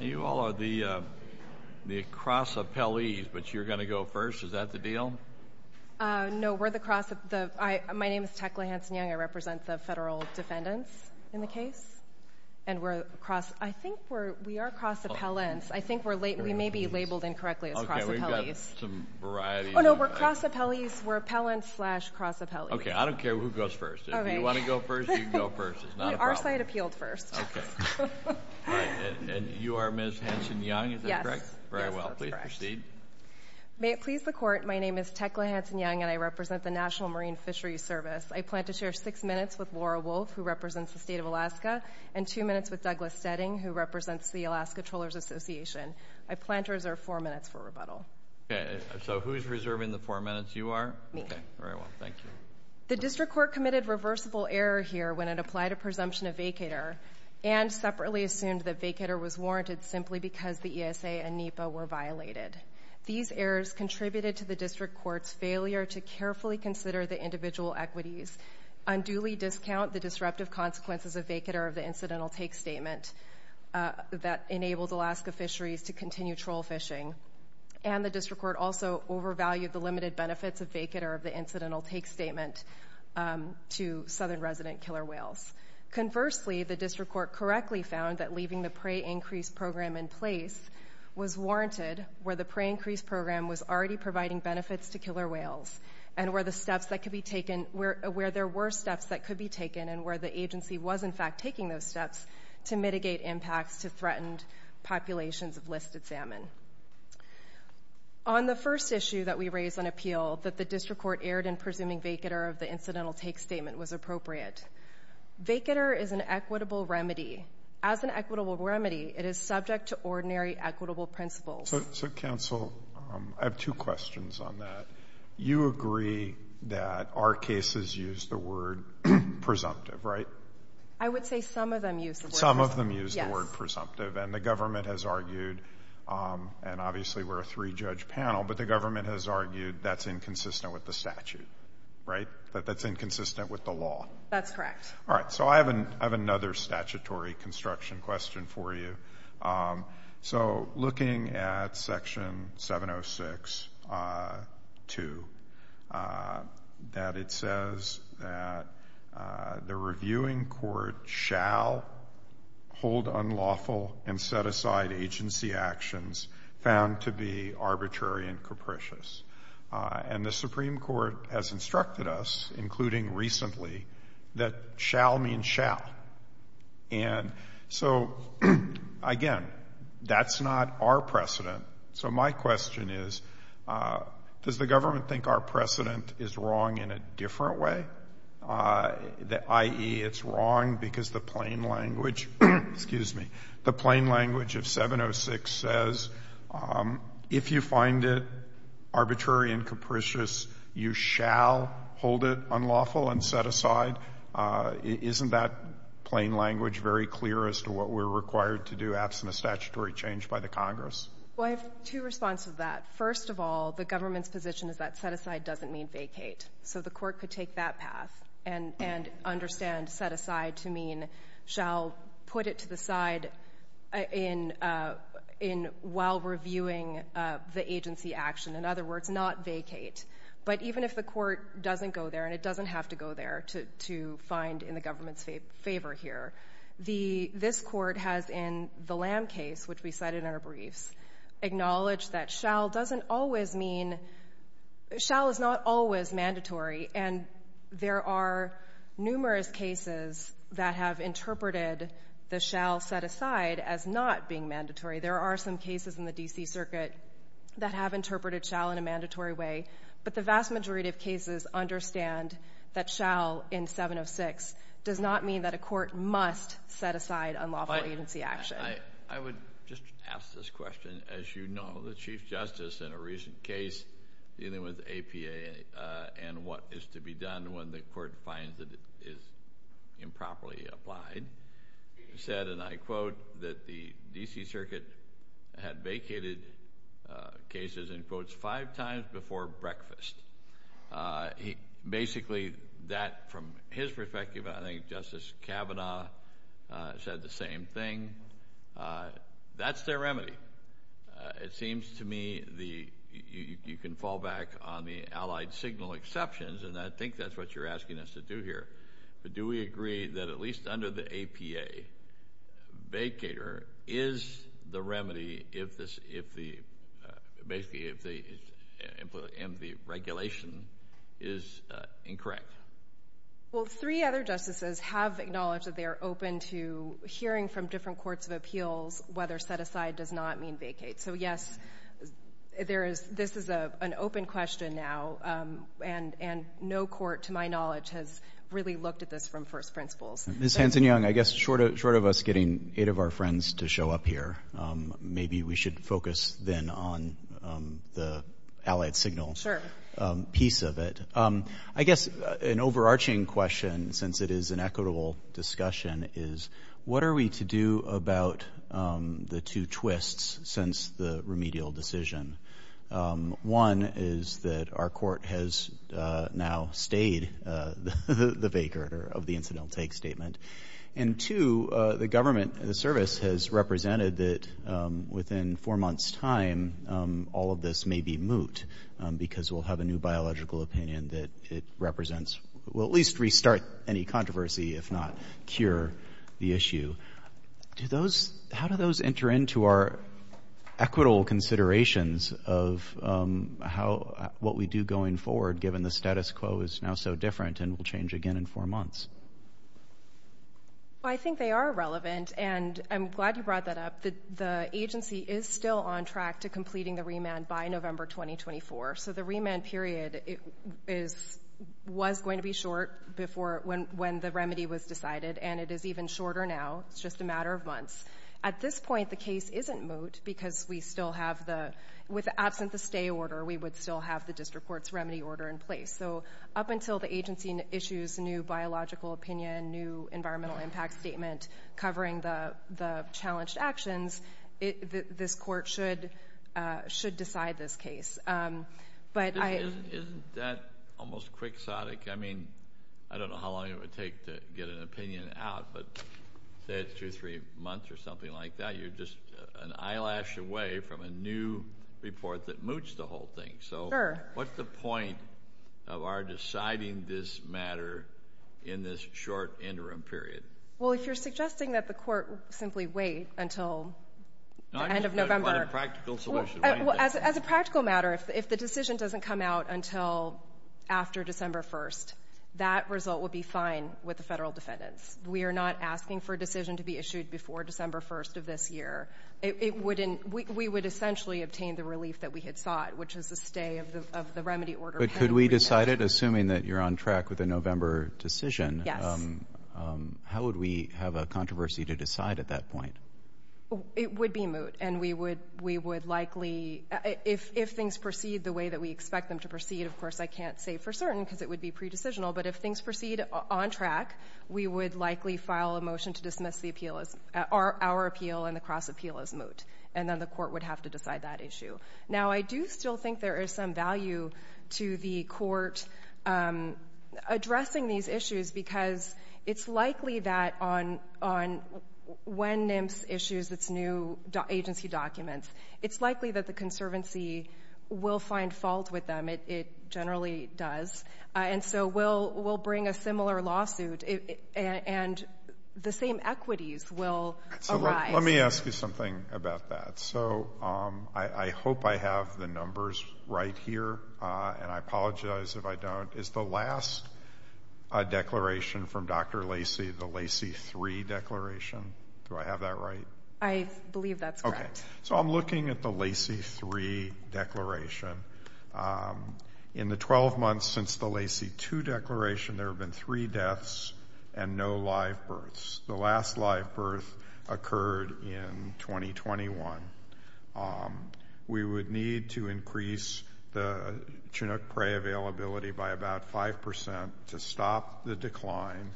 You all are the cross-appellees, but you're going to go first. Is that the deal? No, we're the cross-appellees. My name is Tecla Hanson-Young. I represent the federal defendants in the case. And I think we are cross-appellants. I think we may be labeled incorrectly as cross-appellees. Okay, we've got some varieties. Oh, no, we're cross-appellees. We're appellants slash cross-appellees. Okay, I don't care who goes first. If you want to go first, you can go first. It's not a problem. Our side appealed first. Okay. And you are Ms. Hanson-Young, is that correct? Yes. Very well. Please proceed. May it please the Court, my name is Tecla Hanson-Young, and I represent the National Marine Fisheries Service. I plan to share six minutes with Laura Wolf, who represents the State of Alaska, and two minutes with Douglas Stetting, who represents the Alaska Trawlers Association. I plan to reserve four minutes for rebuttal. Okay, so who's reserving the four minutes? You are? Me. Okay, very well. Thank you. The District Court committed reversible error here when it applied a presumption of vacator and separately assumed that vacator was warranted simply because the ESA and NEPA were violated. These errors contributed to the District Court's failure to carefully consider the individual equities, unduly discount the disruptive consequences of vacator of the incidental take statement that enabled Alaska fisheries to continue troll fishing, and the District Court also overvalued the limited benefits of vacator of the incidental take statement to southern resident killer whales. Conversely, the District Court correctly found that leaving the prey increase program in place was warranted where the prey increase program was already providing benefits to killer whales and where there were steps that could be taken and where the agency was in fact taking those steps to mitigate impacts to threatened populations of listed salmon. On the first issue that we raised on appeal, that the District Court erred in presuming vacator of the incidental take statement was appropriate. Vacator is an equitable remedy. As an equitable remedy, it is subject to ordinary equitable principles. So, counsel, I have two questions on that. You agree that our cases use the word presumptive, right? I would say some of them use the word presumptive. And the government has argued, and obviously we're a three-judge panel, but the government has argued that's inconsistent with the statute, right? That that's inconsistent with the law. That's correct. All right. So I have another statutory construction question for you. So looking at Section 706.2, that it says that the reviewing court shall hold unlawful and set aside agency actions found to be arbitrary and capricious. And the Supreme Court has instructed us, including recently, that shall mean shall. And so, again, that's not our precedent. So my question is, does the government think our precedent is wrong in a different way? I.e., it's wrong because the plain language of 706 says, if you find it arbitrary and capricious, you shall hold it unlawful and set aside. Isn't that plain language very clear as to what we're required to do absent a statutory change by the Congress? Well, I have two responses to that. First of all, the government's position is that set aside doesn't mean vacate. So the court could take that path and understand set aside to mean shall put it to the side while reviewing the agency action. In other words, not vacate. But even if the court doesn't go there, and it doesn't have to go there to find in the government's favor here, this court has in the Lam case, which we cite in our briefs, acknowledged that shall doesn't always mean – shall is not always mandatory. And there are numerous cases that have interpreted the shall set aside as not being mandatory. There are some cases in the D.C. Circuit that have interpreted shall in a mandatory way. But the vast majority of cases understand that shall in 706 does not mean that a court must set aside unlawful agency action. I would just ask this question. As you know, the Chief Justice in a recent case dealing with APA and what is to be done when the court finds that it is improperly applied, said, and I quote, that the D.C. Circuit had vacated cases in quotes five times before breakfast. Basically that, from his perspective, I think Justice Kavanaugh said the same thing. That's their remedy. It seems to me you can fall back on the allied signal exceptions, and I think that's what you're asking us to do here. But do we agree that at least under the APA, vacater is the remedy if the regulation is incorrect? Well, three other justices have acknowledged that they are open to hearing from different courts of appeals whether set aside does not mean vacate. So, yes, this is an open question now, and no court, to my knowledge, has really looked at this from first principles. Ms. Hanson-Young, I guess short of us getting eight of our friends to show up here, maybe we should focus then on the allied signal piece of it. I guess an overarching question, since it is an equitable discussion, is what are we to do about the two twists since the remedial decision? One is that our court has now stayed the vacater of the incidental take statement, and two, the government, the service has represented that within four months' time, all of this may be moot because we'll have a new biological opinion that it represents or at least restart any controversy, if not cure the issue. How do those enter into our equitable considerations of what we do going forward, given the status quo is now so different and will change again in four months? I think they are relevant, and I'm glad you brought that up. The agency is still on track to completing the remand by November 2024, so the remand period was going to be short when the remedy was decided, and it is even shorter now. It's just a matter of months. At this point, the case isn't moot because we still have the, with the absence of the stay order, we would still have the district court's remedy order in place. So up until the agency issues a new biological opinion, new environmental impact statement covering the challenged actions, this court should decide this case. Isn't that almost quixotic? I mean, I don't know how long it would take to get an opinion out, but say it's two or three months or something like that. You're just an eyelash away from a new report that moots the whole thing. So what's the point of our deciding this matter in this short interim period? Well, if you're suggesting that the court simply wait until the end of November. No, I'm just talking about a practical solution. As a practical matter, if the decision doesn't come out until after December 1st, that result would be fine with the federal defendants. We are not asking for a decision to be issued before December 1st of this year. We would essentially obtain the relief that we had sought, which is the stay of the remedy order. But could we decide it, assuming that you're on track with the November decision? Yes. How would we have a controversy to decide at that point? It would be moot. And we would likely, if things proceed the way that we expect them to proceed, of course I can't say for certain because it would be pre-decisional, but if things proceed on track, we would likely file a motion to dismiss our appeal and the cross-appeal as moot. And then the court would have to decide that issue. Now, I do still think there is some value to the court addressing these issues because it's likely that on when NIMS issues its new agency documents, it's likely that the conservancy will find fault with them. It generally does. And so we'll bring a similar lawsuit, and the same equities will arise. So let me ask you something about that. So I hope I have the numbers right here, and I apologize if I don't. Is the last declaration from Dr. Lacy the Lacy 3 declaration? Do I have that right? I believe that's correct. So I'm looking at the Lacy 3 declaration. In the 12 months since the Lacy 2 declaration, there have been three deaths and no live births. The last live birth occurred in 2021. We would need to increase the Chinook prey availability by about 5% to stop the decline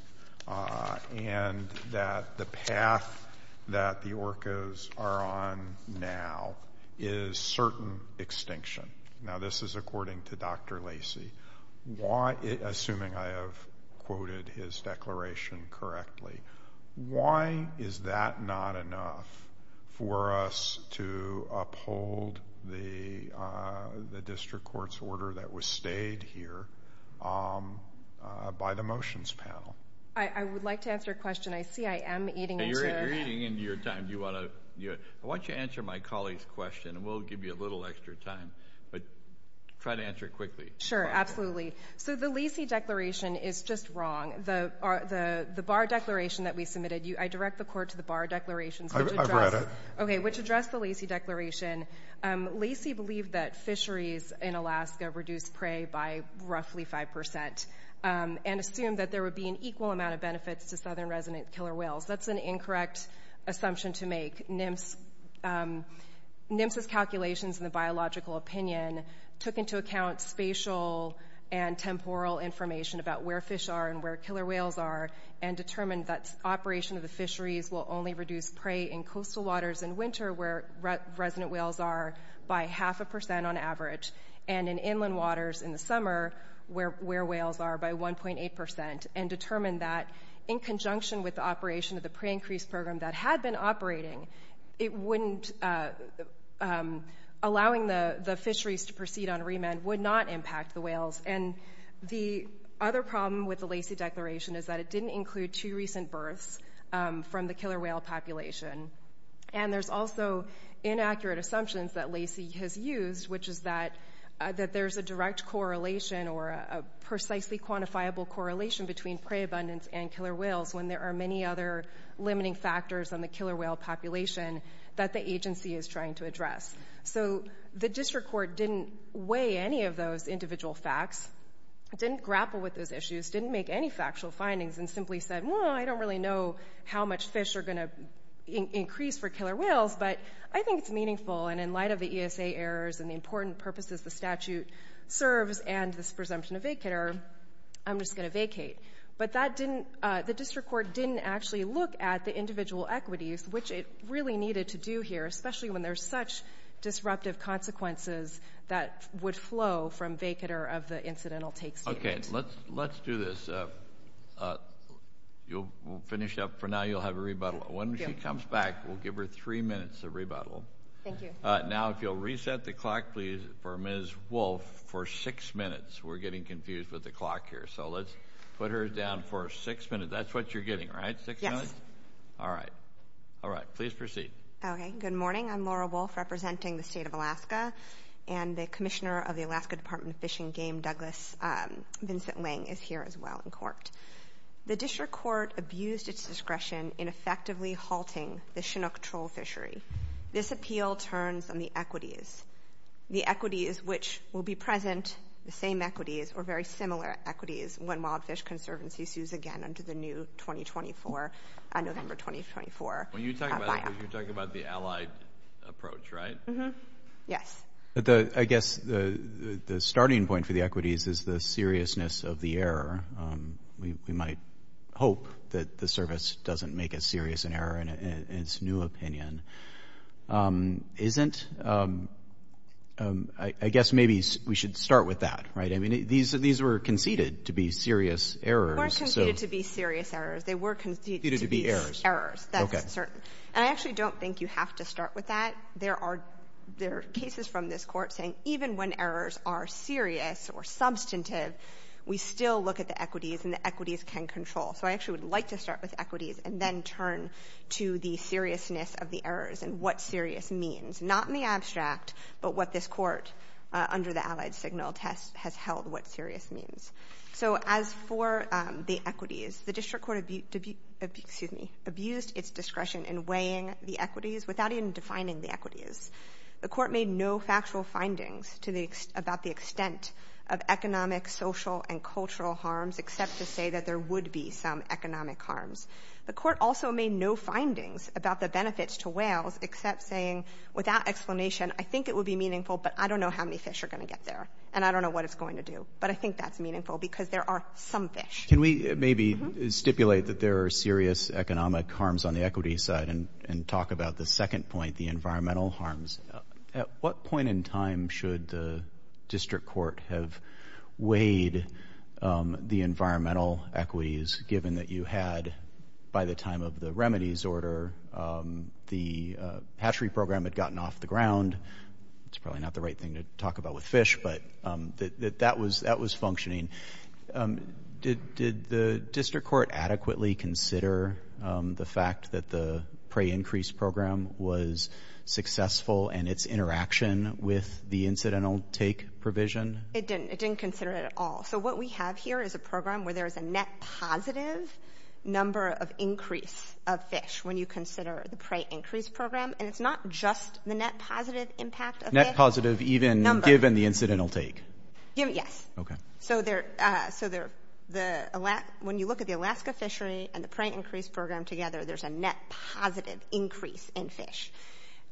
and that the path that the orcas are on now is certain extinction. Now, this is according to Dr. Lacy, assuming I have quoted his declaration correctly. Why is that not enough for us to uphold the district court's order that was stayed here by the motions panel? I would like to answer a question. I see I am eating into your time. Why don't you answer my colleague's question, and we'll give you a little extra time. But try to answer it quickly. Sure, absolutely. So the Lacy declaration is just wrong. The bar declaration that we submitted, I direct the court to the bar declaration. I've read it. Okay, which addressed the Lacy declaration. Lacy believed that fisheries in Alaska reduced prey by roughly 5% and assumed that there would be an equal amount of benefits to southern resident killer whales. That's an incorrect assumption to make. NIMS's calculations and the biological opinion took into account spatial and temporal information about where fish are and where killer whales are and determined that operation of the fisheries will only reduce prey in coastal waters in winter where resident whales are by half a percent on average, and in inland waters in the summer where whales are by 1.8%, and determined that in conjunction with the operation of the prey increase program that had been operating, allowing the fisheries to proceed on remand would not impact the whales. And the other problem with the Lacy declaration is that it didn't include two recent births from the killer whale population. And there's also inaccurate assumptions that Lacy has used, which is that there's a direct correlation or a precisely quantifiable correlation between prey abundance and killer whales when there are many other limiting factors on the killer whale population that the agency is trying to address. So the district court didn't weigh any of those individual facts, didn't grapple with those issues, didn't make any factual findings, and simply said, well, I don't really know how much fish are going to increase for killer whales, but I think it's meaningful. And in light of the ESA errors and the important purposes the statute serves and this presumption of vacator, I'm just going to vacate. But the district court didn't actually look at the individual equities, which it really needed to do here, especially when there's such disruptive consequences that would flow from vacator of the incidental take statement. Okay, let's do this. We'll finish up for now. You'll have a rebuttal. When she comes back, we'll give her three minutes to rebuttal. Thank you. Now if you'll reset the clock, please, for Ms. Wolfe for six minutes. We're getting confused with the clock here. So let's put her down for six minutes. That's what you're getting, right? Yes. All right. All right. Please proceed. Okay, good morning. I'm Laura Wolfe representing the state of Alaska, and the commissioner of the Alaska Department of Fish and Game, Douglas Vincent Ling, is here as well in court. The district court abused its discretion in effectively halting the Chinook troll fishery. This appeal turns on the equities, the equities which will be present, the same equities or very similar equities when Wild Fish Conservancy sues again under the new November 2024. You're talking about the allied approach, right? Yes. I guess the starting point for the equities is the seriousness of the error. We might hope that the service doesn't make as serious an error in its new opinion. Isn't? I guess maybe we should start with that. Right. I mean, these were conceded to be serious errors. They weren't conceded to be serious errors. They were conceded to be errors. Conceded to be errors. That's certain. Okay. And I actually don't think you have to start with that. There are cases from this Court saying even when errors are serious or substantive, we still look at the equities and the equities can control. So I actually would like to start with equities and then turn to the seriousness of the errors and what serious means, not in the abstract, but what this Court, under the allied signal test, has held what serious means. So as for the equities, the District Court abused its discretion in weighing the equities without even defining the equities. The Court made no factual findings about the extent of economic, social, and cultural harms except to say that there would be some economic harms. The Court also made no findings about the benefits to whales except saying, without explanation, I think it would be meaningful, but I don't know how many fish are going to get there, and I don't know what it's going to do. But I think that's meaningful because there are some fish. Can we maybe stipulate that there are serious economic harms on the equities side and talk about the second point, the environmental harms? At what point in time should the District Court have weighed the environmental equities, given that you had, by the time of the remedies order, the hatchery program had gotten off the ground? It's probably not the right thing to talk about with fish, but that was functioning. Did the District Court adequately consider the fact that the prey increase program was successful in its interaction with the incidental take provision? It didn't. It didn't consider it at all. So what we have here is a program where there is a net positive number of increase of fish when you consider the prey increase program, and it's not just the net positive impact of fish. Net positive even given the incidental take? Yes. Okay. So when you look at the Alaska fishery and the prey increase program together, there's a net positive increase in fish.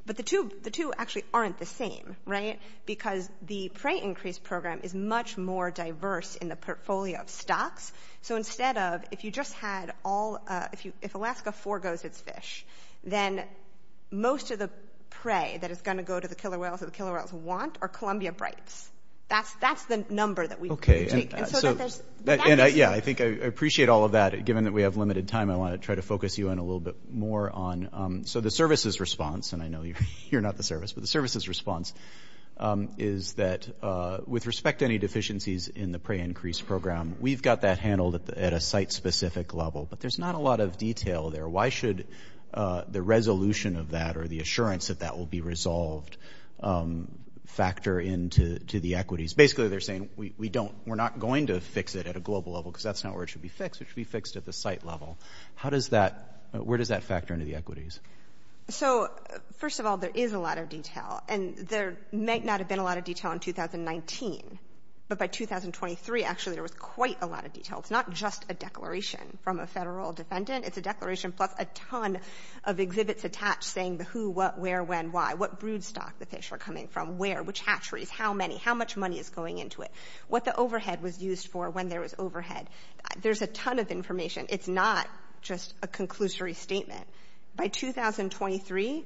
But the two actually aren't the same, right, because the prey increase program is much more diverse in the portfolio of stocks. So instead of if you just had all of the fish, if Alaska forgoes its fish, then most of the prey that is going to go to the killer whales or the killer whales want are Columbia brights. That's the number that we take. Okay. Yeah, I think I appreciate all of that. Given that we have limited time, I want to try to focus you in a little bit more on. So the service's response, and I know you're not the service, but the service's response is that with respect to any deficiencies in the prey increase program, we've got that handled at a site-specific level. But there's not a lot of detail there. Why should the resolution of that or the assurance that that will be resolved factor into the equities? Basically, they're saying we're not going to fix it at a global level because that's not where it should be fixed. It should be fixed at the site level. How does that – where does that factor into the equities? So, first of all, there is a lot of detail. And there might not have been a lot of detail in 2019. But by 2023, actually, there was quite a lot of detail. It's not just a declaration from a federal defendant. It's a declaration plus a ton of exhibits attached saying the who, what, where, when, why, what brood stock the fish are coming from, where, which hatcheries, how many, how much money is going into it, what the overhead was used for when there was overhead. There's a ton of information. It's not just a conclusory statement. By 2023,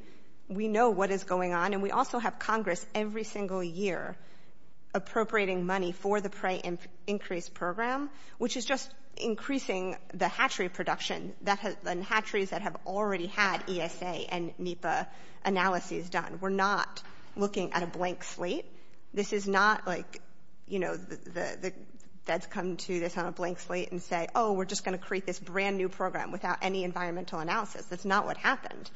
we know what is going on. And we also have Congress every single year appropriating money for the prey increase program, which is just increasing the hatchery production, the hatcheries that have already had ESA and NEPA analyses done. We're not looking at a blank slate. This is not like, you know, the feds come to this on a blank slate and say, oh, we're just going to create this brand-new program without any environmental analysis. That's not what happened.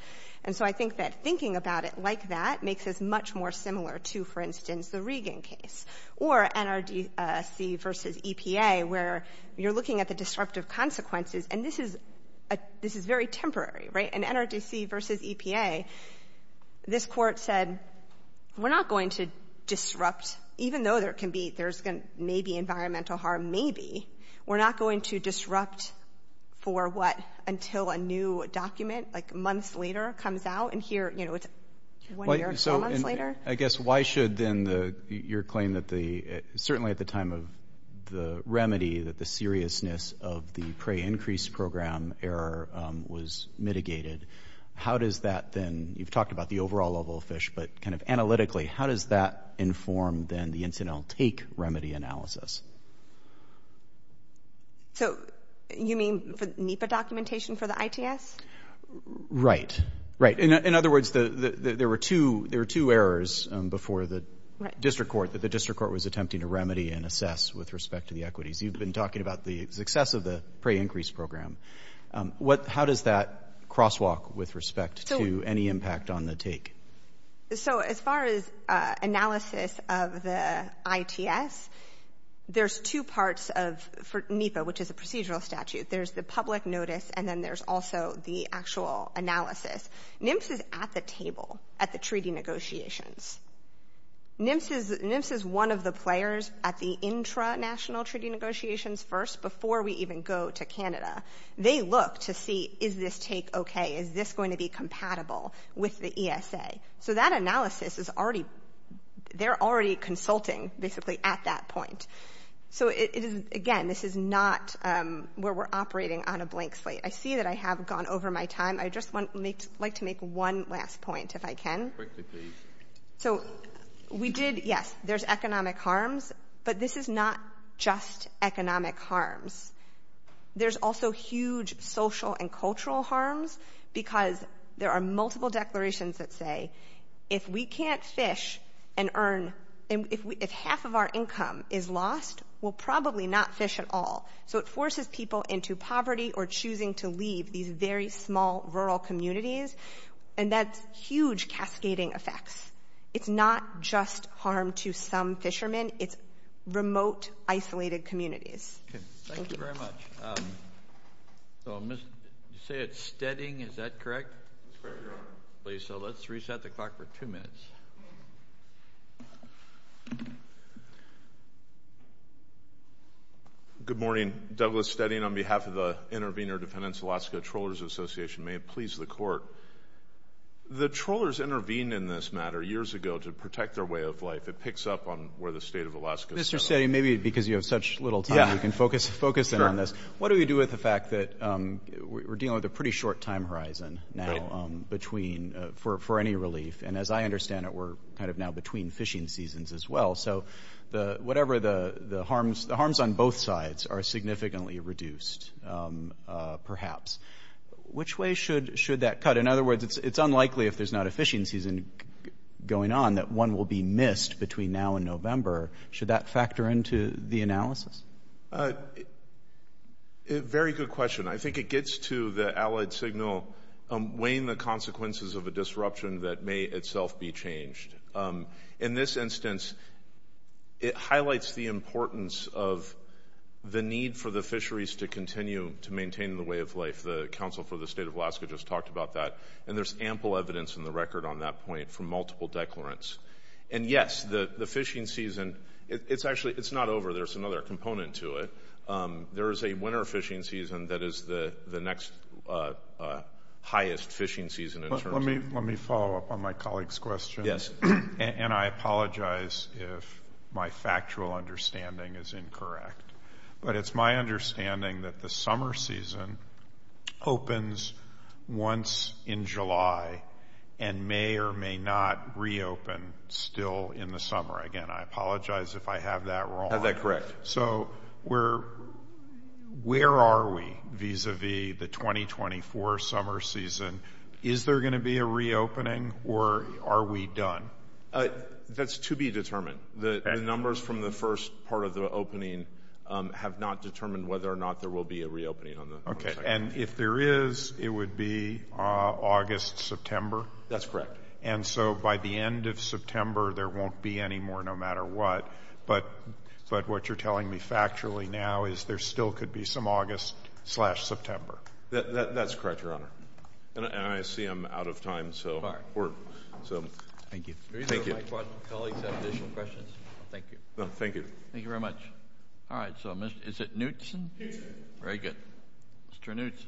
And so I think that thinking about it like that makes us much more similar to, for instance, the Regan case or NRDC v. EPA, where you're looking at the disruptive consequences. And this is a — this is very temporary, right? In NRDC v. EPA, this Court said we're not going to disrupt, even though there can be — there's going to maybe environmental harm, maybe, we're not going to disrupt for, what, until a new document, like months later, comes out. And here, you know, it's one year or four months later. So I guess why should, then, your claim that the — certainly at the time of the remedy, that the seriousness of the prey increase program error was mitigated, how does that then — you've talked about the overall level of fish, but kind of analytically, how does that inform, then, the incidental take remedy analysis? So you mean NEPA documentation for the ITS? Right. Right. In other words, there were two errors before the district court, that the district court was attempting to remedy and assess with respect to the equities. You've been talking about the success of the prey increase program. How does that crosswalk with respect to any impact on the take? So as far as analysis of the ITS, there's two parts of — for NEPA, which is a procedural statute. There's the public notice, and then there's also the actual analysis. NMTS is at the table at the treaty negotiations. NMTS is one of the players at the intranational treaty negotiations first, before we even go to Canada. They look to see, is this take okay? Is this going to be compatible with the ESA? So that analysis is already — they're already consulting, basically, at that point. So it is — again, this is not where we're operating on a blank slate. I see that I have gone over my time. I'd just like to make one last point, if I can. Quickly, please. So we did — yes, there's economic harms, but this is not just economic harms. There's also huge social and cultural harms, because there are multiple declarations that say, if we can't fish and earn — if half of our income is lost, we'll probably not fish at all. So it forces people into poverty or choosing to leave these very small rural communities, and that's huge cascading effects. It's not just harm to some fishermen. It's remote, isolated communities. Okay. Thank you very much. So, Mr. — you say it's Steading. Is that correct? That's correct, Your Honor. Please. So let's reset the clock for two minutes. Good morning. Douglas Steading on behalf of the Intervenor Defendants of Alaska Trawlers Association. May it please the Court. The trawlers intervened in this matter years ago to protect their way of life. It picks up on where the state of Alaska — Mr. Steading, maybe because you have such little time, you can focus in on this. Sure. What do we do with the fact that we're dealing with a pretty short time horizon now between — for any relief, and as I understand it, we're kind of now between fishing seasons as well. So whatever the harms — the harms on both sides are significantly reduced, perhaps. Which way should that cut? In other words, it's unlikely, if there's not a fishing season going on, that one will be missed between now and November. Should that factor into the analysis? Very good question. I think it gets to the allied signal weighing the consequences of a disruption that may itself be changed. In this instance, it highlights the importance of the need for the fisheries to continue to maintain the way of life. The counsel for the state of Alaska just talked about that, and there's ample evidence in the record on that point from multiple declarants. And yes, the fishing season — it's actually — it's not over. There's another component to it. There is a winter fishing season that is the next highest fishing season in terms of — Let me follow up on my colleague's question. Yes. And I apologize if my factual understanding is incorrect. But it's my understanding that the summer season opens once in July and may or may not reopen still in the summer. Again, I apologize if I have that wrong. So where are we vis-a-vis the 2024 summer season? Is there going to be a reopening, or are we done? That's to be determined. The numbers from the first part of the opening have not determined whether or not there will be a reopening on the 22nd. And if there is, it would be August, September? That's correct. And so by the end of September, there won't be any more no matter what, but what you're telling me factually now is there still could be some August-slash-September. That's correct, Your Honor. And I see I'm out of time, so — Thank you. Thank you. If my colleagues have additional questions. Thank you. Thank you. Thank you very much. All right. So is it Knutson? Knutson. Very good. Mr. Knutson.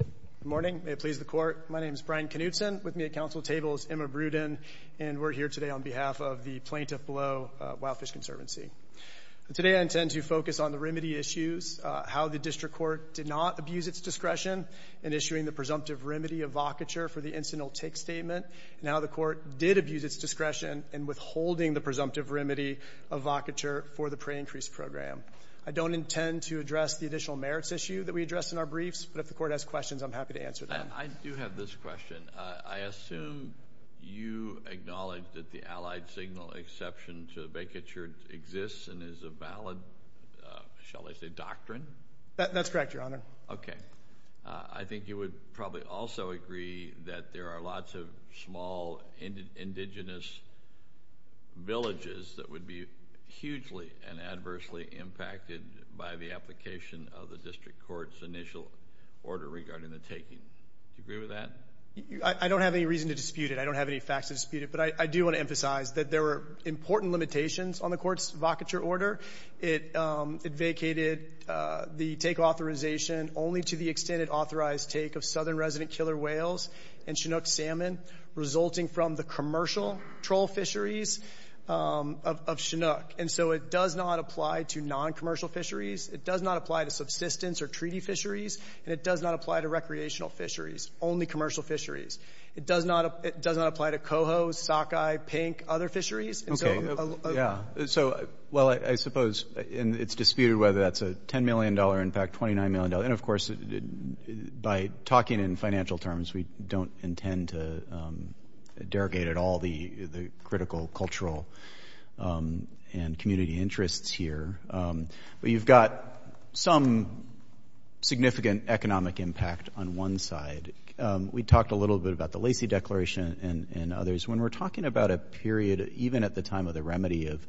Good morning. May it please the Court. My name is Brian Knutson. With me at Council table is Emma Bruden, and we're here today on behalf of the plaintiff below, Wildfish Conservancy. Today I intend to focus on the remedy issues, how the district court did not abuse its discretion in issuing the presumptive remedy of vocature for the incidental take statement, and how the court did abuse its discretion in withholding the presumptive remedy of vocature for the pre-increase program. I don't intend to address the additional merits issue that we addressed in our briefs, but if the court has questions, I'm happy to answer them. I do have this question. I assume you acknowledge that the allied signal exception to the vacature exists and is a valid, shall I say, doctrine? That's correct, Your Honor. Okay. I think you would probably also agree that there are lots of small indigenous villages that would be hugely and adversely impacted by the application of the district court's initial order regarding the taking. Do you agree with that? I don't have any reason to dispute it. I don't have any facts to dispute it. But I do want to emphasize that there were important limitations on the court's vocature order. It vacated the take authorization only to the extent it authorized take of southern resident killer whales and Chinook salmon, resulting from the commercial troll fisheries of Chinook. And so it does not apply to noncommercial fisheries. It does not apply to subsistence or treaty fisheries. And it does not apply to recreational fisheries, only commercial fisheries. It does not apply to coho, sockeye, pink, other fisheries. Okay. Yeah. So, well, I suppose it's disputed whether that's a $10 million impact, $29 million. And, of course, by talking in financial terms, we don't intend to derogate at all the critical cultural and community interests here. But you've got some significant economic impact on one side. We talked a little bit about the Lacey Declaration and others. When we're talking about a period even at the time of the remedy of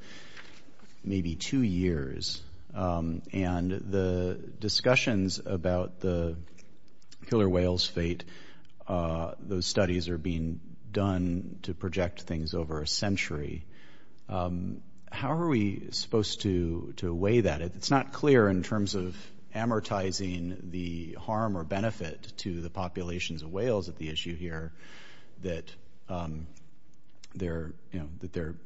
maybe two years and the discussions about the killer whales' fate, those studies are being done to project things over a century. How are we supposed to weigh that? It's not clear in terms of amortizing the harm or benefit to the populations of whales at the issue here that there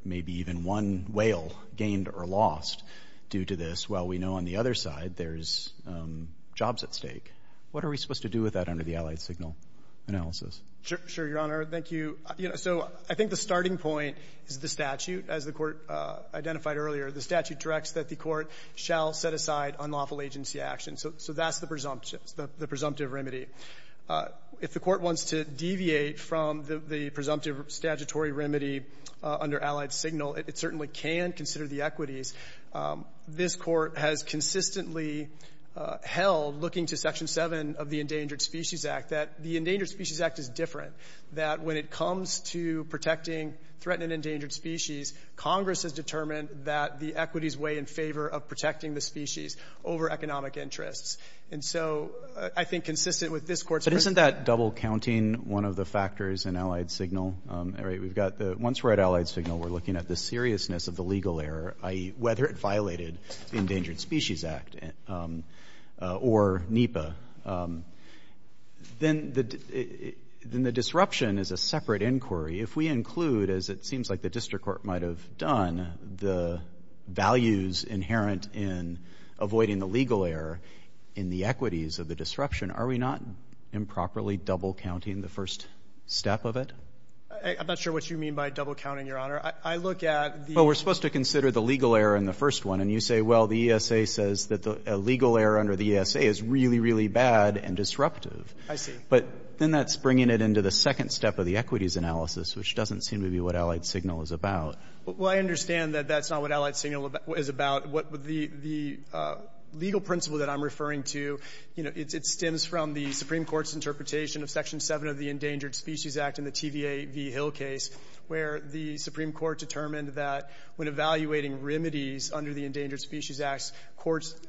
may be even one whale gained or lost due to this, while we know on the other side there's jobs at stake. What are we supposed to do with that under the Allied Signal analysis? Sure, Your Honor. Thank you. So I think the starting point is the statute. As the Court identified earlier, the statute directs that the Court shall set aside unlawful agency action. So that's the presumptive remedy. If the Court wants to deviate from the presumptive statutory remedy under Allied Signal, it certainly can consider the equities. This Court has consistently held, looking to Section 7 of the Endangered Species Act, that the Endangered Species Act is different, that when it comes to protecting threatened and endangered species, Congress has determined that the equities weigh in favor of protecting the species over economic interests. And so I think consistent with this Court's principle. But isn't that double-counting one of the factors in Allied Signal? All right. We've got the — once we're at Allied Signal, we're looking at the seriousness of the legal error, i.e., whether it violated the Endangered Species Act or NEPA. Then the disruption is a separate inquiry. If we include, as it seems like the district court might have done, the values inherent in avoiding the legal error in the equities of the disruption, are we not improperly double-counting the first step of it? I'm not sure what you mean by double-counting, Your Honor. I look at the — Well, we're supposed to consider the legal error in the first one. And you say, well, the ESA says that the legal error under the ESA is really, really bad and disruptive. I see. But then that's bringing it into the second step of the equities analysis, which doesn't seem to be what Allied Signal is about. Well, I understand that that's not what Allied Signal is about. The legal principle that I'm referring to, you know, it stems from the Supreme Court's interpretation of Section 7 of the Endangered Species Act in the TVA v. Hill case, where the Supreme Court determined that when evaluating remedies under the Endangered Species Act, courts —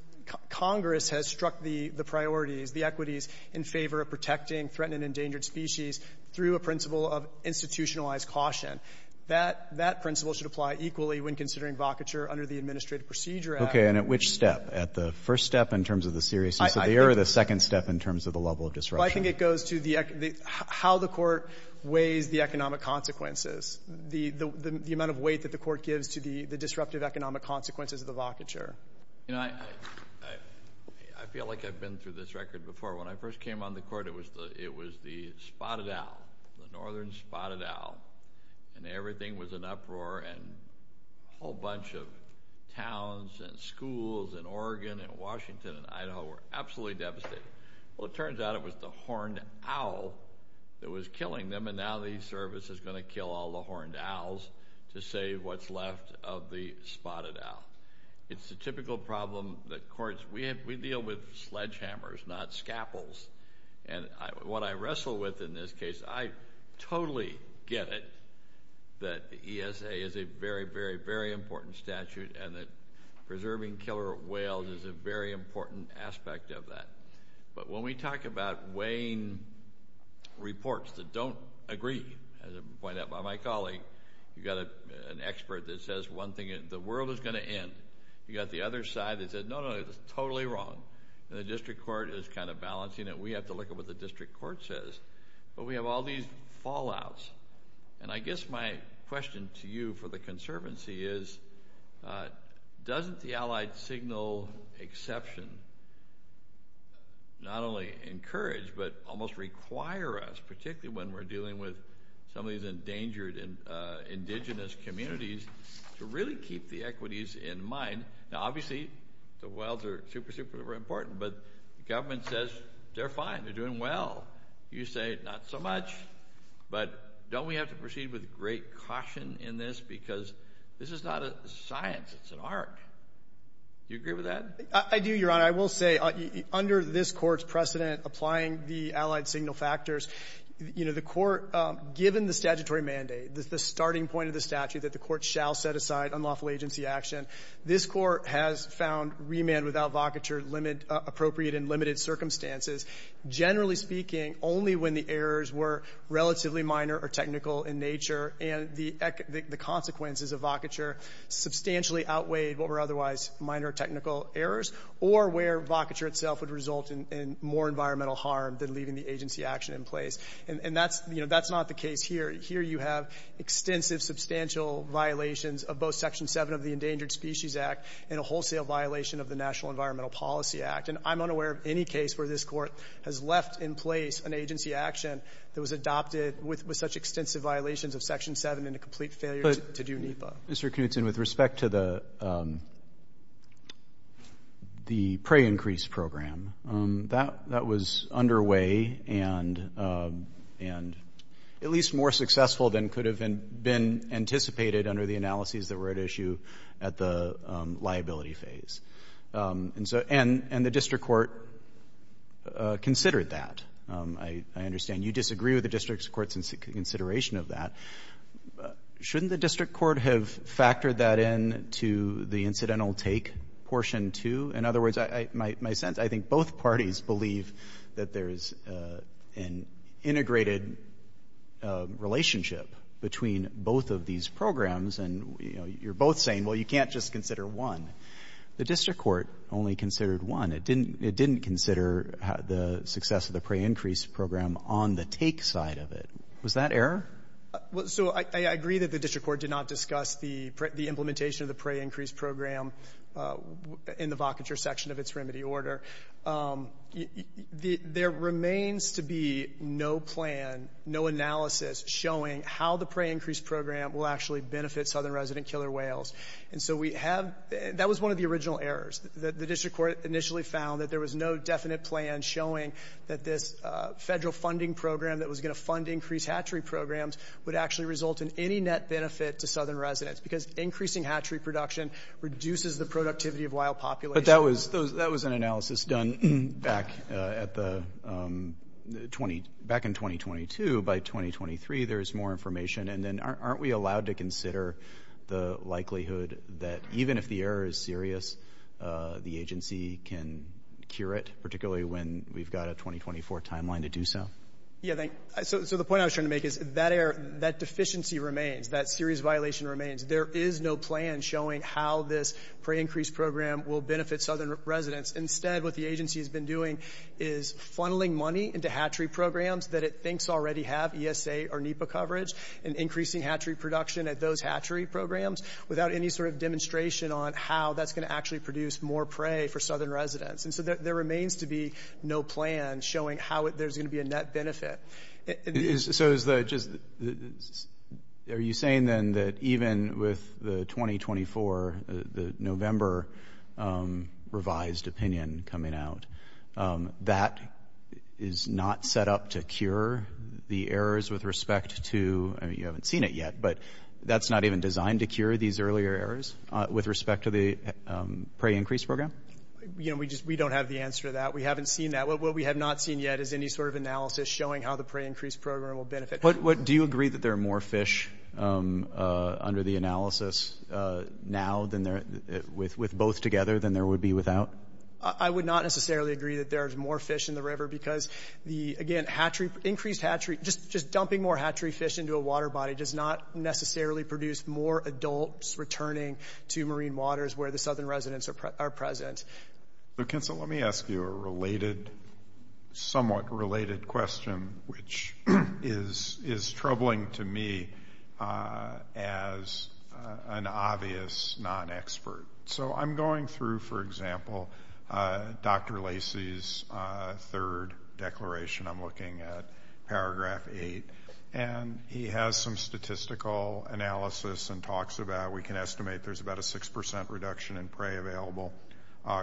Congress has struck the priorities, the equities in favor of protecting threatened and endangered species through a principle of institutionalized caution. That principle should apply equally when considering vocature under the Administrative Procedure Act. Okay. And at which step? At the first step in terms of the seriousness of the error or the second step in terms of the level of disruption? Well, I think it goes to the — how the Court weighs the economic consequences, the amount of weight that the Court gives to the disruptive economic consequences of the vocature. You know, I feel like I've been through this record before. When I first came on the Court, it was the spotted owl, the northern spotted owl. And everything was in uproar, and a whole bunch of towns and schools in Oregon and Washington and Idaho were absolutely devastated. Well, it turns out it was the horned owl that was killing them, and now the Service is going to kill all the horned owls to save what's left of the spotted owl. It's the typical problem that courts — we deal with sledgehammers, not scaffolds. And what I wrestle with in this case, I totally get it that the ESA is a very, very, very important statute and that preserving killer whales is a very important aspect of that. But when we talk about weighing reports that don't agree, as I pointed out by my colleague, you've got an expert that says one thing, the world is going to end. You've got the other side that says, no, no, it's totally wrong. And the district court is kind of balancing it. We have to look at what the district court says. But we have all these fallouts. And I guess my question to you for the Conservancy is, doesn't the allied signal exception not only encourage but almost require us, particularly when we're dealing with some of these endangered indigenous communities, to really keep the equities in mind? Now, obviously, the whales are super, super important. But the government says they're fine. They're doing well. You say not so much. But don't we have to proceed with great caution in this? Because this is not a science. It's an art. Do you agree with that? I do, Your Honor. I will say, under this Court's precedent applying the allied signal factors, the Court, given the statutory mandate, the starting point of the statute that the Court shall set aside unlawful agency action, this Court has found remand without vocature appropriate in limited circumstances. Generally speaking, only when the errors were relatively minor or technical in nature and the consequences of vocature substantially outweighed what were otherwise minor technical errors or where vocature itself would result in more environmental harm than leaving the agency action in place. And that's not the case here. Here you have extensive substantial violations of both Section 7 of the Endangered Species Act and a wholesale violation of the National Environmental Policy Act. And I'm unaware of any case where this Court has left in place an agency action that was adopted with such extensive violations of Section 7 and a complete failure to do NEPA. Mr. Knutson, with respect to the prey increase program, that was underway and at least more successful than could have been anticipated under the analyses that were at issue at the liability phase. And so the district court considered that. I understand you disagree with the district court's consideration of that. Shouldn't the district court have factored that into the incidental take portion, too? In other words, my sense, I think both parties believe that there is an integrated relationship between both of these programs. And, you know, you're both saying, well, you can't just consider one. The district court only considered one. It didn't consider the success of the prey increase program on the take side of it. Was that error? Well, so I agree that the district court did not discuss the implementation of the prey increase program in the vocature section of its remedy order. There remains to be no plan, no analysis showing how the prey increase program will actually benefit southern resident killer whales. And so we have — that was one of the original errors, that the district court initially found that there was no definite plan showing that this Federal funding program that was going to fund increased hatchery programs would actually result in any net benefit to southern residents because increasing hatchery production reduces the productivity of wild populations. But that was an analysis done back in 2022. By 2023, there's more information. And then aren't we allowed to consider the likelihood that even if the error is serious, the agency can cure it, particularly when we've got a 2024 timeline to do so? Yeah, so the point I was trying to make is that deficiency remains, that serious violation remains. There is no plan showing how this prey increase program will benefit southern residents. Instead, what the agency has been doing is funneling money into hatchery programs that it thinks already have ESA or NEPA coverage and increasing hatchery production at those hatchery programs without any sort of demonstration on how that's going to actually produce more prey for southern residents. And so there remains to be no plan showing how there's going to be a net benefit. So are you saying then that even with the 2024, the November revised opinion coming out, that is not set up to cure the errors with respect to, I mean, you haven't seen it yet, but that's not even designed to cure these earlier errors with respect to the prey increase program? You know, we don't have the answer to that. We haven't seen that. What we have not seen yet is any sort of analysis showing how the prey increase program will benefit. Do you agree that there are more fish under the analysis now with both together than there would be without? I would not necessarily agree that there is more fish in the river because, again, increased hatchery, just dumping more hatchery fish into a water body does not necessarily produce more adults returning to marine waters where the southern residents are present. So, Kinsel, let me ask you a related, somewhat related question, which is troubling to me as an obvious non-expert. So I'm going through, for example, Dr. Lacey's third declaration. I'm looking at paragraph 8. And he has some statistical analysis and talks about we can estimate there's about a 6% reduction in prey available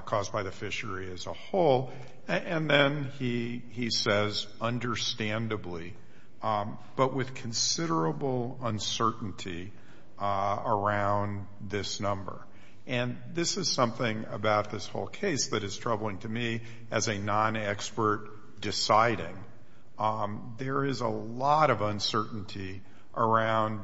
caused by the fishery as a whole. And then he says, understandably, but with considerable uncertainty around this number. And this is something about this whole case that is troubling to me as a non-expert deciding. There is a lot of uncertainty around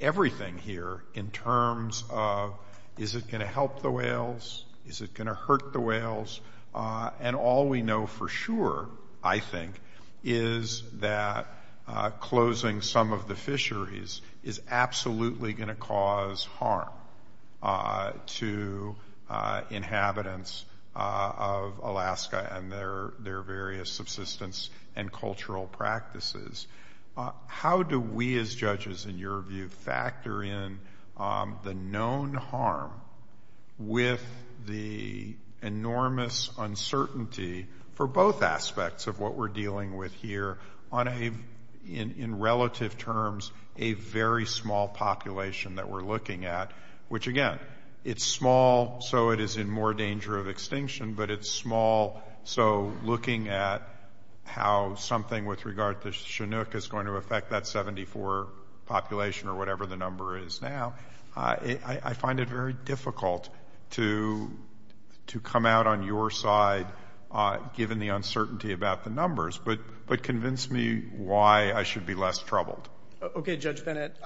everything here in terms of is it going to help the whales? Is it going to hurt the whales? And all we know for sure, I think, is that closing some of the fisheries is absolutely going to cause harm to inhabitants of Alaska and their various subsistence and cultural practices. How do we as judges, in your view, factor in the known harm with the enormous uncertainty for both aspects of what we're dealing with here on a, in relative terms, a very small population that we're looking at? Which, again, it's small so it is in more danger of extinction, but it's small so looking at how something with regard to Chinook is going to affect that 74 population or whatever the number is now, I find it very difficult to come out on your side, given the uncertainty about the numbers, but convince me why I should be less troubled. Okay, Judge Bennett.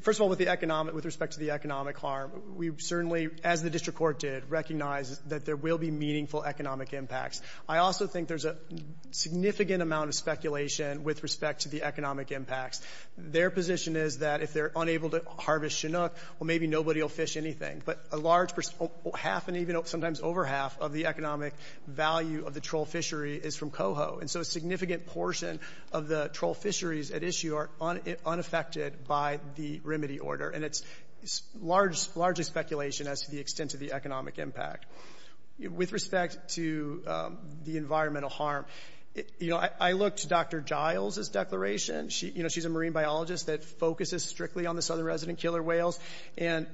First of all, with respect to the economic harm, we certainly, as the district court did, recognize that there will be meaningful economic impacts. I also think there's a significant amount of speculation with respect to the economic impacts. Their position is that if they're unable to harvest Chinook, well, maybe nobody will fish anything, but a large, half and even sometimes over half of the economic value of the troll fishery is from Coho, and so a significant portion of the troll fisheries at issue are unaffected by the remedy order, and it's largely speculation as to the extent of the economic impact. With respect to the environmental harm, I looked to Dr. Giles' declaration. She's a marine biologist that focuses strictly on the southern resident killer whales, and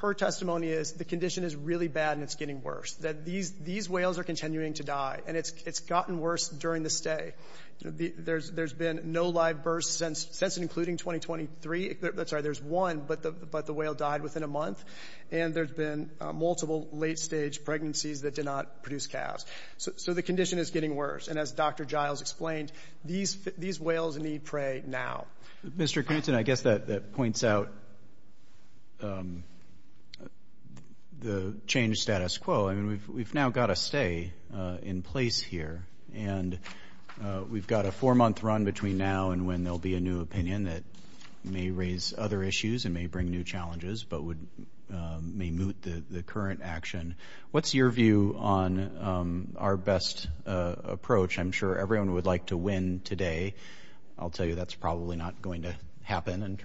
her testimony is the condition is really bad and it's getting worse, that these whales are continuing to die, and it's gotten worse during the stay. There's been no live births since and including 2023. I'm sorry, there's one, but the whale died within a month, and there's been multiple late-stage pregnancies that did not produce calves. So the condition is getting worse, and as Dr. Giles explained, these whales need prey now. Mr. Knutson, I guess that points out the change status quo. I mean, we've now got a stay in place here, and we've got a four-month run between now and when there will be a new opinion that may raise other issues and may bring new challenges but may moot the current action. What's your view on our best approach? I'm sure everyone would like to win today. I'll tell you that's probably not going to happen in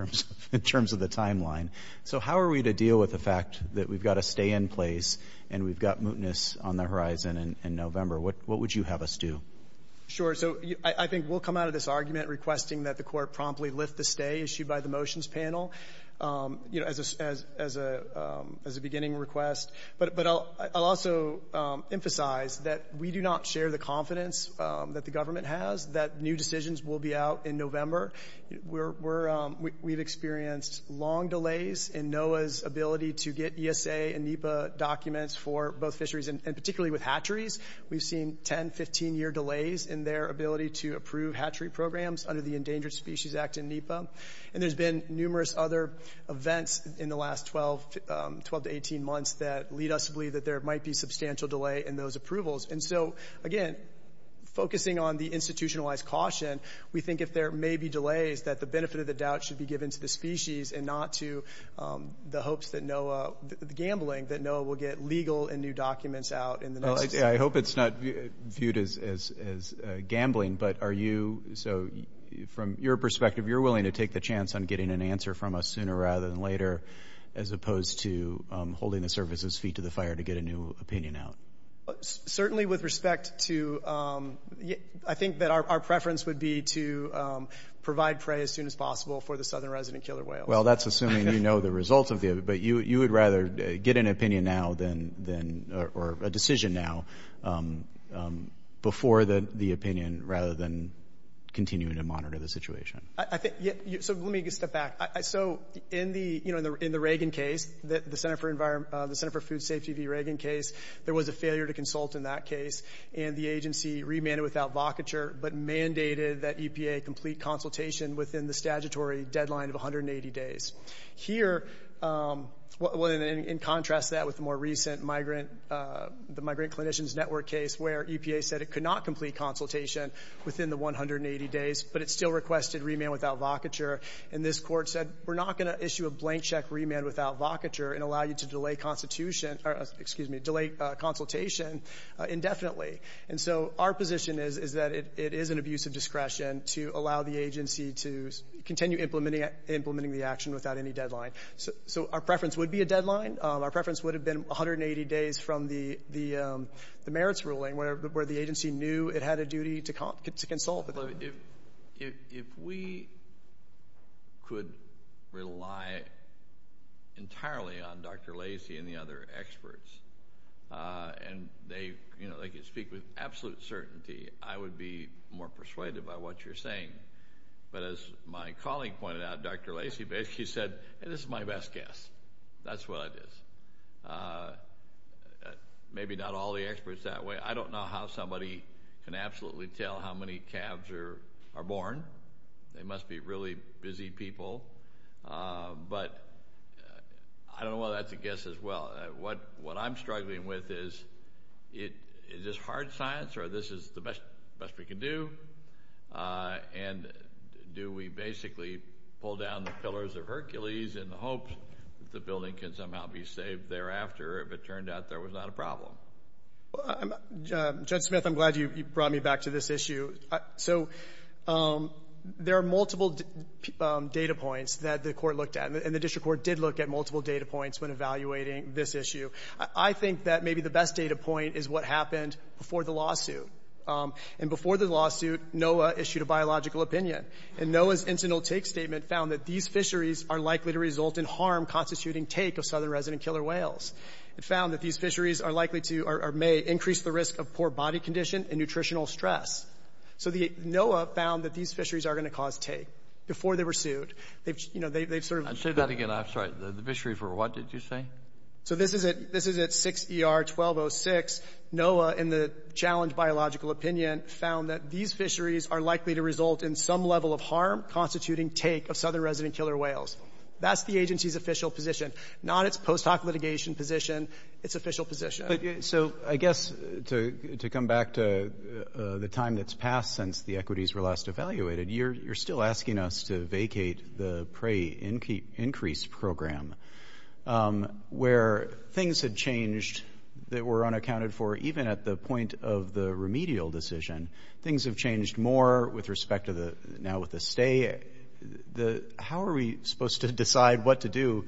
terms of the timeline. So how are we to deal with the fact that we've got a stay in place and we've got mootness on the horizon in November? What would you have us do? So I think we'll come out of this argument requesting that the court promptly lift the stay issued by the motions panel as a beginning request. But I'll also emphasize that we do not share the confidence that the government has that new decisions will be out in November. We've experienced long delays in NOAA's ability to get ESA and NEPA documents for both fisheries, and particularly with hatcheries. We've seen 10, 15-year delays in their ability to approve hatchery programs under the Endangered Species Act and NEPA. And there's been numerous other events in the last 12 to 18 months that lead us to believe that there might be substantial delay in those approvals. And so, again, focusing on the institutionalized caution, we think if there may be delays that the benefit of the doubt should be given to the species and not to the hopes that NOAA, the gambling, that NOAA will get legal and new documents out. I hope it's not viewed as gambling, but are you, so from your perspective, you're willing to take the chance on getting an answer from us sooner rather than later as opposed to holding the services' feet to the fire to get a new opinion out? Certainly with respect to, I think that our preference would be to provide prey as soon as possible for the southern resident killer whale. Well, that's assuming you know the results of it, but you would rather get an opinion now or a decision now before the opinion rather than continuing to monitor the situation. So let me step back. So in the Reagan case, the Center for Food Safety v. Reagan case, there was a failure to consult in that case, and the agency remanded without vocature but mandated that EPA complete consultation within the statutory deadline of 180 days. Here, in contrast to that with the more recent Migrant Clinicians Network case where EPA said it could not complete consultation within the 180 days, but it still requested remand without vocature, and this court said, we're not going to issue a blank check remand without vocature and allow you to delay consultation indefinitely. And so our position is that it is an abuse of discretion to allow the agency to continue implementing the action without any deadline. So our preference would be a deadline. Our preference would have been 180 days from the merits ruling where the agency knew it had a duty to consult. If we could rely entirely on Dr. Lacy and the other experts, and they could speak with absolute certainty, I would be more persuaded by what you're saying. But as my colleague pointed out, Dr. Lacy basically said, this is my best guess. That's what it is. Maybe not all the experts that way. I don't know how somebody can absolutely tell how many calves are born. They must be really busy people. But I don't know whether that's a guess as well. What I'm struggling with is, is this hard science or this is the best we can do? And do we basically pull down the pillars of Hercules in the hopes that the building can somehow be saved thereafter if it turned out there was not a problem? Judge Smith, I'm glad you brought me back to this issue. So there are multiple data points that the Court looked at, and the district court did look at multiple data points when evaluating this issue. I think that maybe the best data point is what happened before the lawsuit. And before the lawsuit, NOAA issued a biological opinion. And NOAA's incidental take statement found that these fisheries are likely to result in harm constituting take of southern resident killer whales. It found that these fisheries are likely to or may increase the risk of poor body condition and nutritional stress. So the NOAA found that these fisheries are going to cause take. Before they were sued, they've sort of — I'll say that again. I'm sorry. The fisheries were what, did you say? So this is at 6ER-1206. NOAA, in the challenge biological opinion, found that these fisheries are likely to result in some level of harm constituting take of southern resident killer whales. That's the agency's official position. Not its post hoc litigation position, its official position. So I guess to come back to the time that's passed since the equities were last evaluated, you're still asking us to vacate the prey increase program where things had changed that were unaccounted for even at the point of the remedial decision. Things have changed more with respect to the — now with the stay. How are we supposed to decide what to do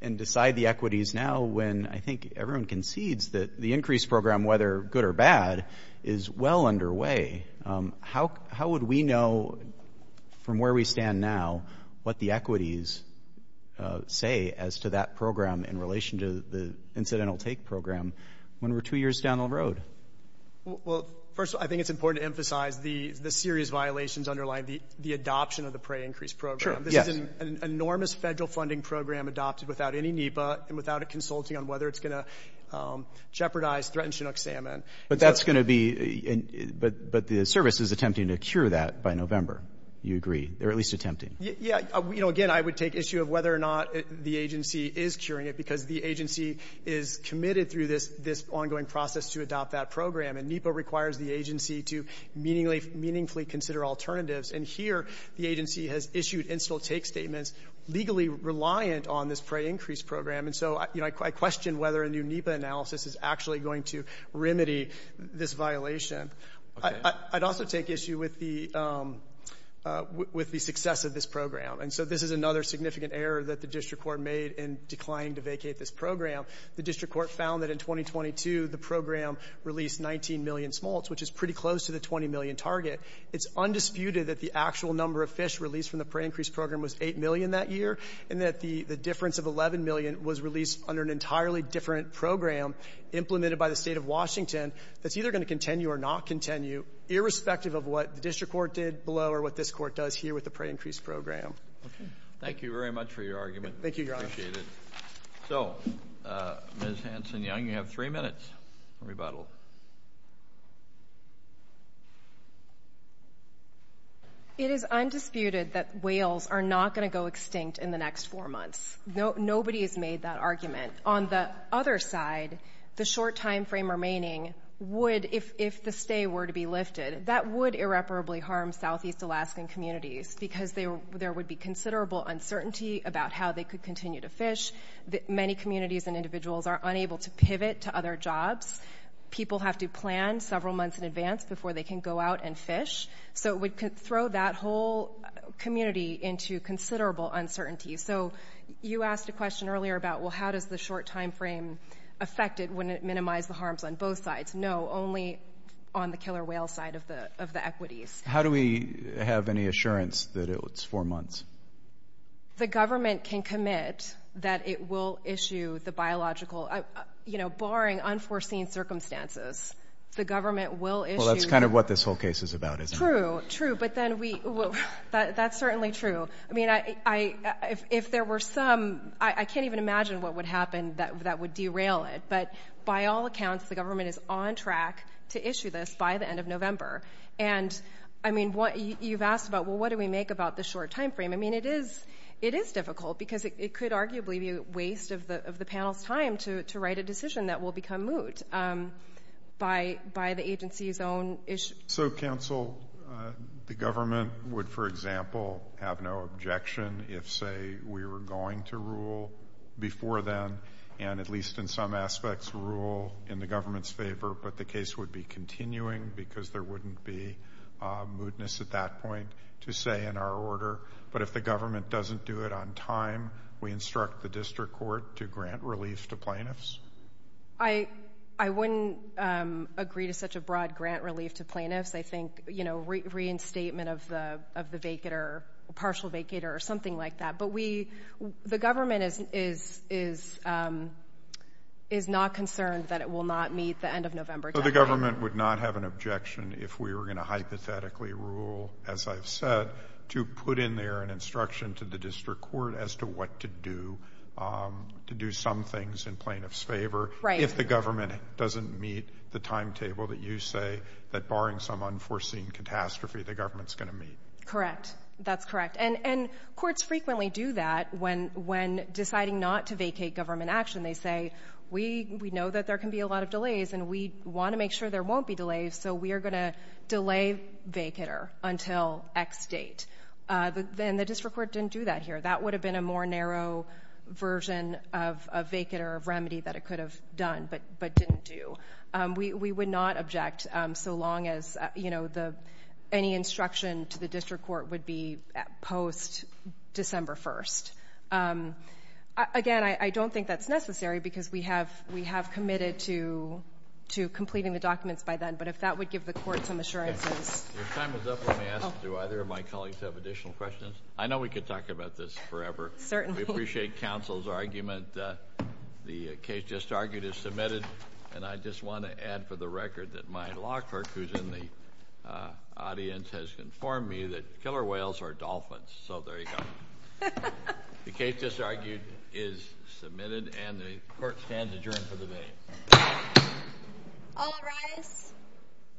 and decide the equities now when I think everyone concedes that the increase program, whether good or bad, is well underway? How would we know from where we stand now what the equities say as to that program in relation to the incidental take program when we're two years down the road? Well, first, I think it's important to emphasize the serious violations underlying the adoption of the prey increase program. Sure. Yes. This is an enormous federal funding program adopted without any NEPA and without a consulting on whether it's going to jeopardize, threaten Chinook salmon. But that's going to be — but the service is attempting to cure that by November. You agree. They're at least attempting. Yeah. Again, I would take issue of whether or not the agency is curing it because the agency is committed through this ongoing process to adopt that program. And NEPA requires the agency to meaningfully consider alternatives. And here, the agency has issued incidental take statements legally reliant on this prey increase program. And so, you know, I question whether a new NEPA analysis is actually going to remedy this violation. Okay. I'd also take issue with the — with the success of this program. And so this is another significant error that the district court made in declining to vacate this program. The district court found that in 2022, the program released 19 million smolts, which is pretty close to the 20 million target. It's undisputed that the actual number of fish released from the prey increase program was 8 million that year, and that the difference of 11 million was released under an entirely different program implemented by the State of Washington that's either going to continue or not continue, irrespective of what the district court did below or what this court does here with the prey increase program. Okay. Thank you very much for your argument. Thank you, Your Honor. I appreciate it. So, Ms. Hanson-Young, you have three minutes for rebuttal. It is undisputed that whales are not going to go extinct in the next four months. Nobody has made that argument. On the other side, the short timeframe remaining would — if the stay were to be lifted, that would irreparably harm southeast Alaskan communities because there would be many communities and individuals are unable to pivot to other jobs. People have to plan several months in advance before they can go out and fish. So it would throw that whole community into considerable uncertainty. So you asked a question earlier about, well, how does the short timeframe affect it when it minimizes the harms on both sides. No, only on the killer whale side of the equities. How do we have any assurance that it's four months? The government can commit that it will issue the biological — you know, barring unforeseen circumstances, the government will issue — Well, that's kind of what this whole case is about, isn't it? True, true. But then we — that's certainly true. I mean, if there were some — I can't even imagine what would happen that would derail it. But by all accounts, the government is on track to issue this by the end of November. And, I mean, you've asked about, well, what do we make about the short timeframe? I mean, it is difficult because it could arguably be a waste of the panel's time to write a decision that will become moot by the agency's own issue. So, counsel, the government would, for example, have no objection if, say, we were going to rule before then, and at least in some aspects rule in the government's favor, but the case would be continuing because there wouldn't be mootness at that point to say in our order. But if the government doesn't do it on time, we instruct the district court to grant relief to plaintiffs? I wouldn't agree to such a broad grant relief to plaintiffs. I think, you know, reinstatement of the vacator, partial vacator, or something like that. The government is not concerned that it will not meet the end of November deadline. So the government would not have an objection if we were going to hypothetically rule, as I've said, to put in there an instruction to the district court as to what to do, to do some things in plaintiffs' favor, if the government doesn't meet the timetable that you say that, barring some unforeseen catastrophe, the government's going to meet? Correct. That's correct. And courts frequently do that when deciding not to vacate government action. They say, we know that there can be a lot of delays, and we want to make sure there won't be delays, so we are going to delay vacator until X date. And the district court didn't do that here. That would have been a more narrow version of vacator, of remedy, that it could have done but didn't do. We would not object so long as any instruction to the district court would be post-December 1. Again, I don't think that's necessary because we have committed to completing the documents by then, but if that would give the court some assurances. Your time is up. Let me ask, do either of my colleagues have additional questions? I know we could talk about this forever. Certainly. We appreciate counsel's argument. The case just argued is submitted, and I just want to add for the record that my law clerk, who's in the audience, has informed me that killer whales are dolphins. So there you go. The case just argued is submitted, and the court stands adjourned for the day. All rise.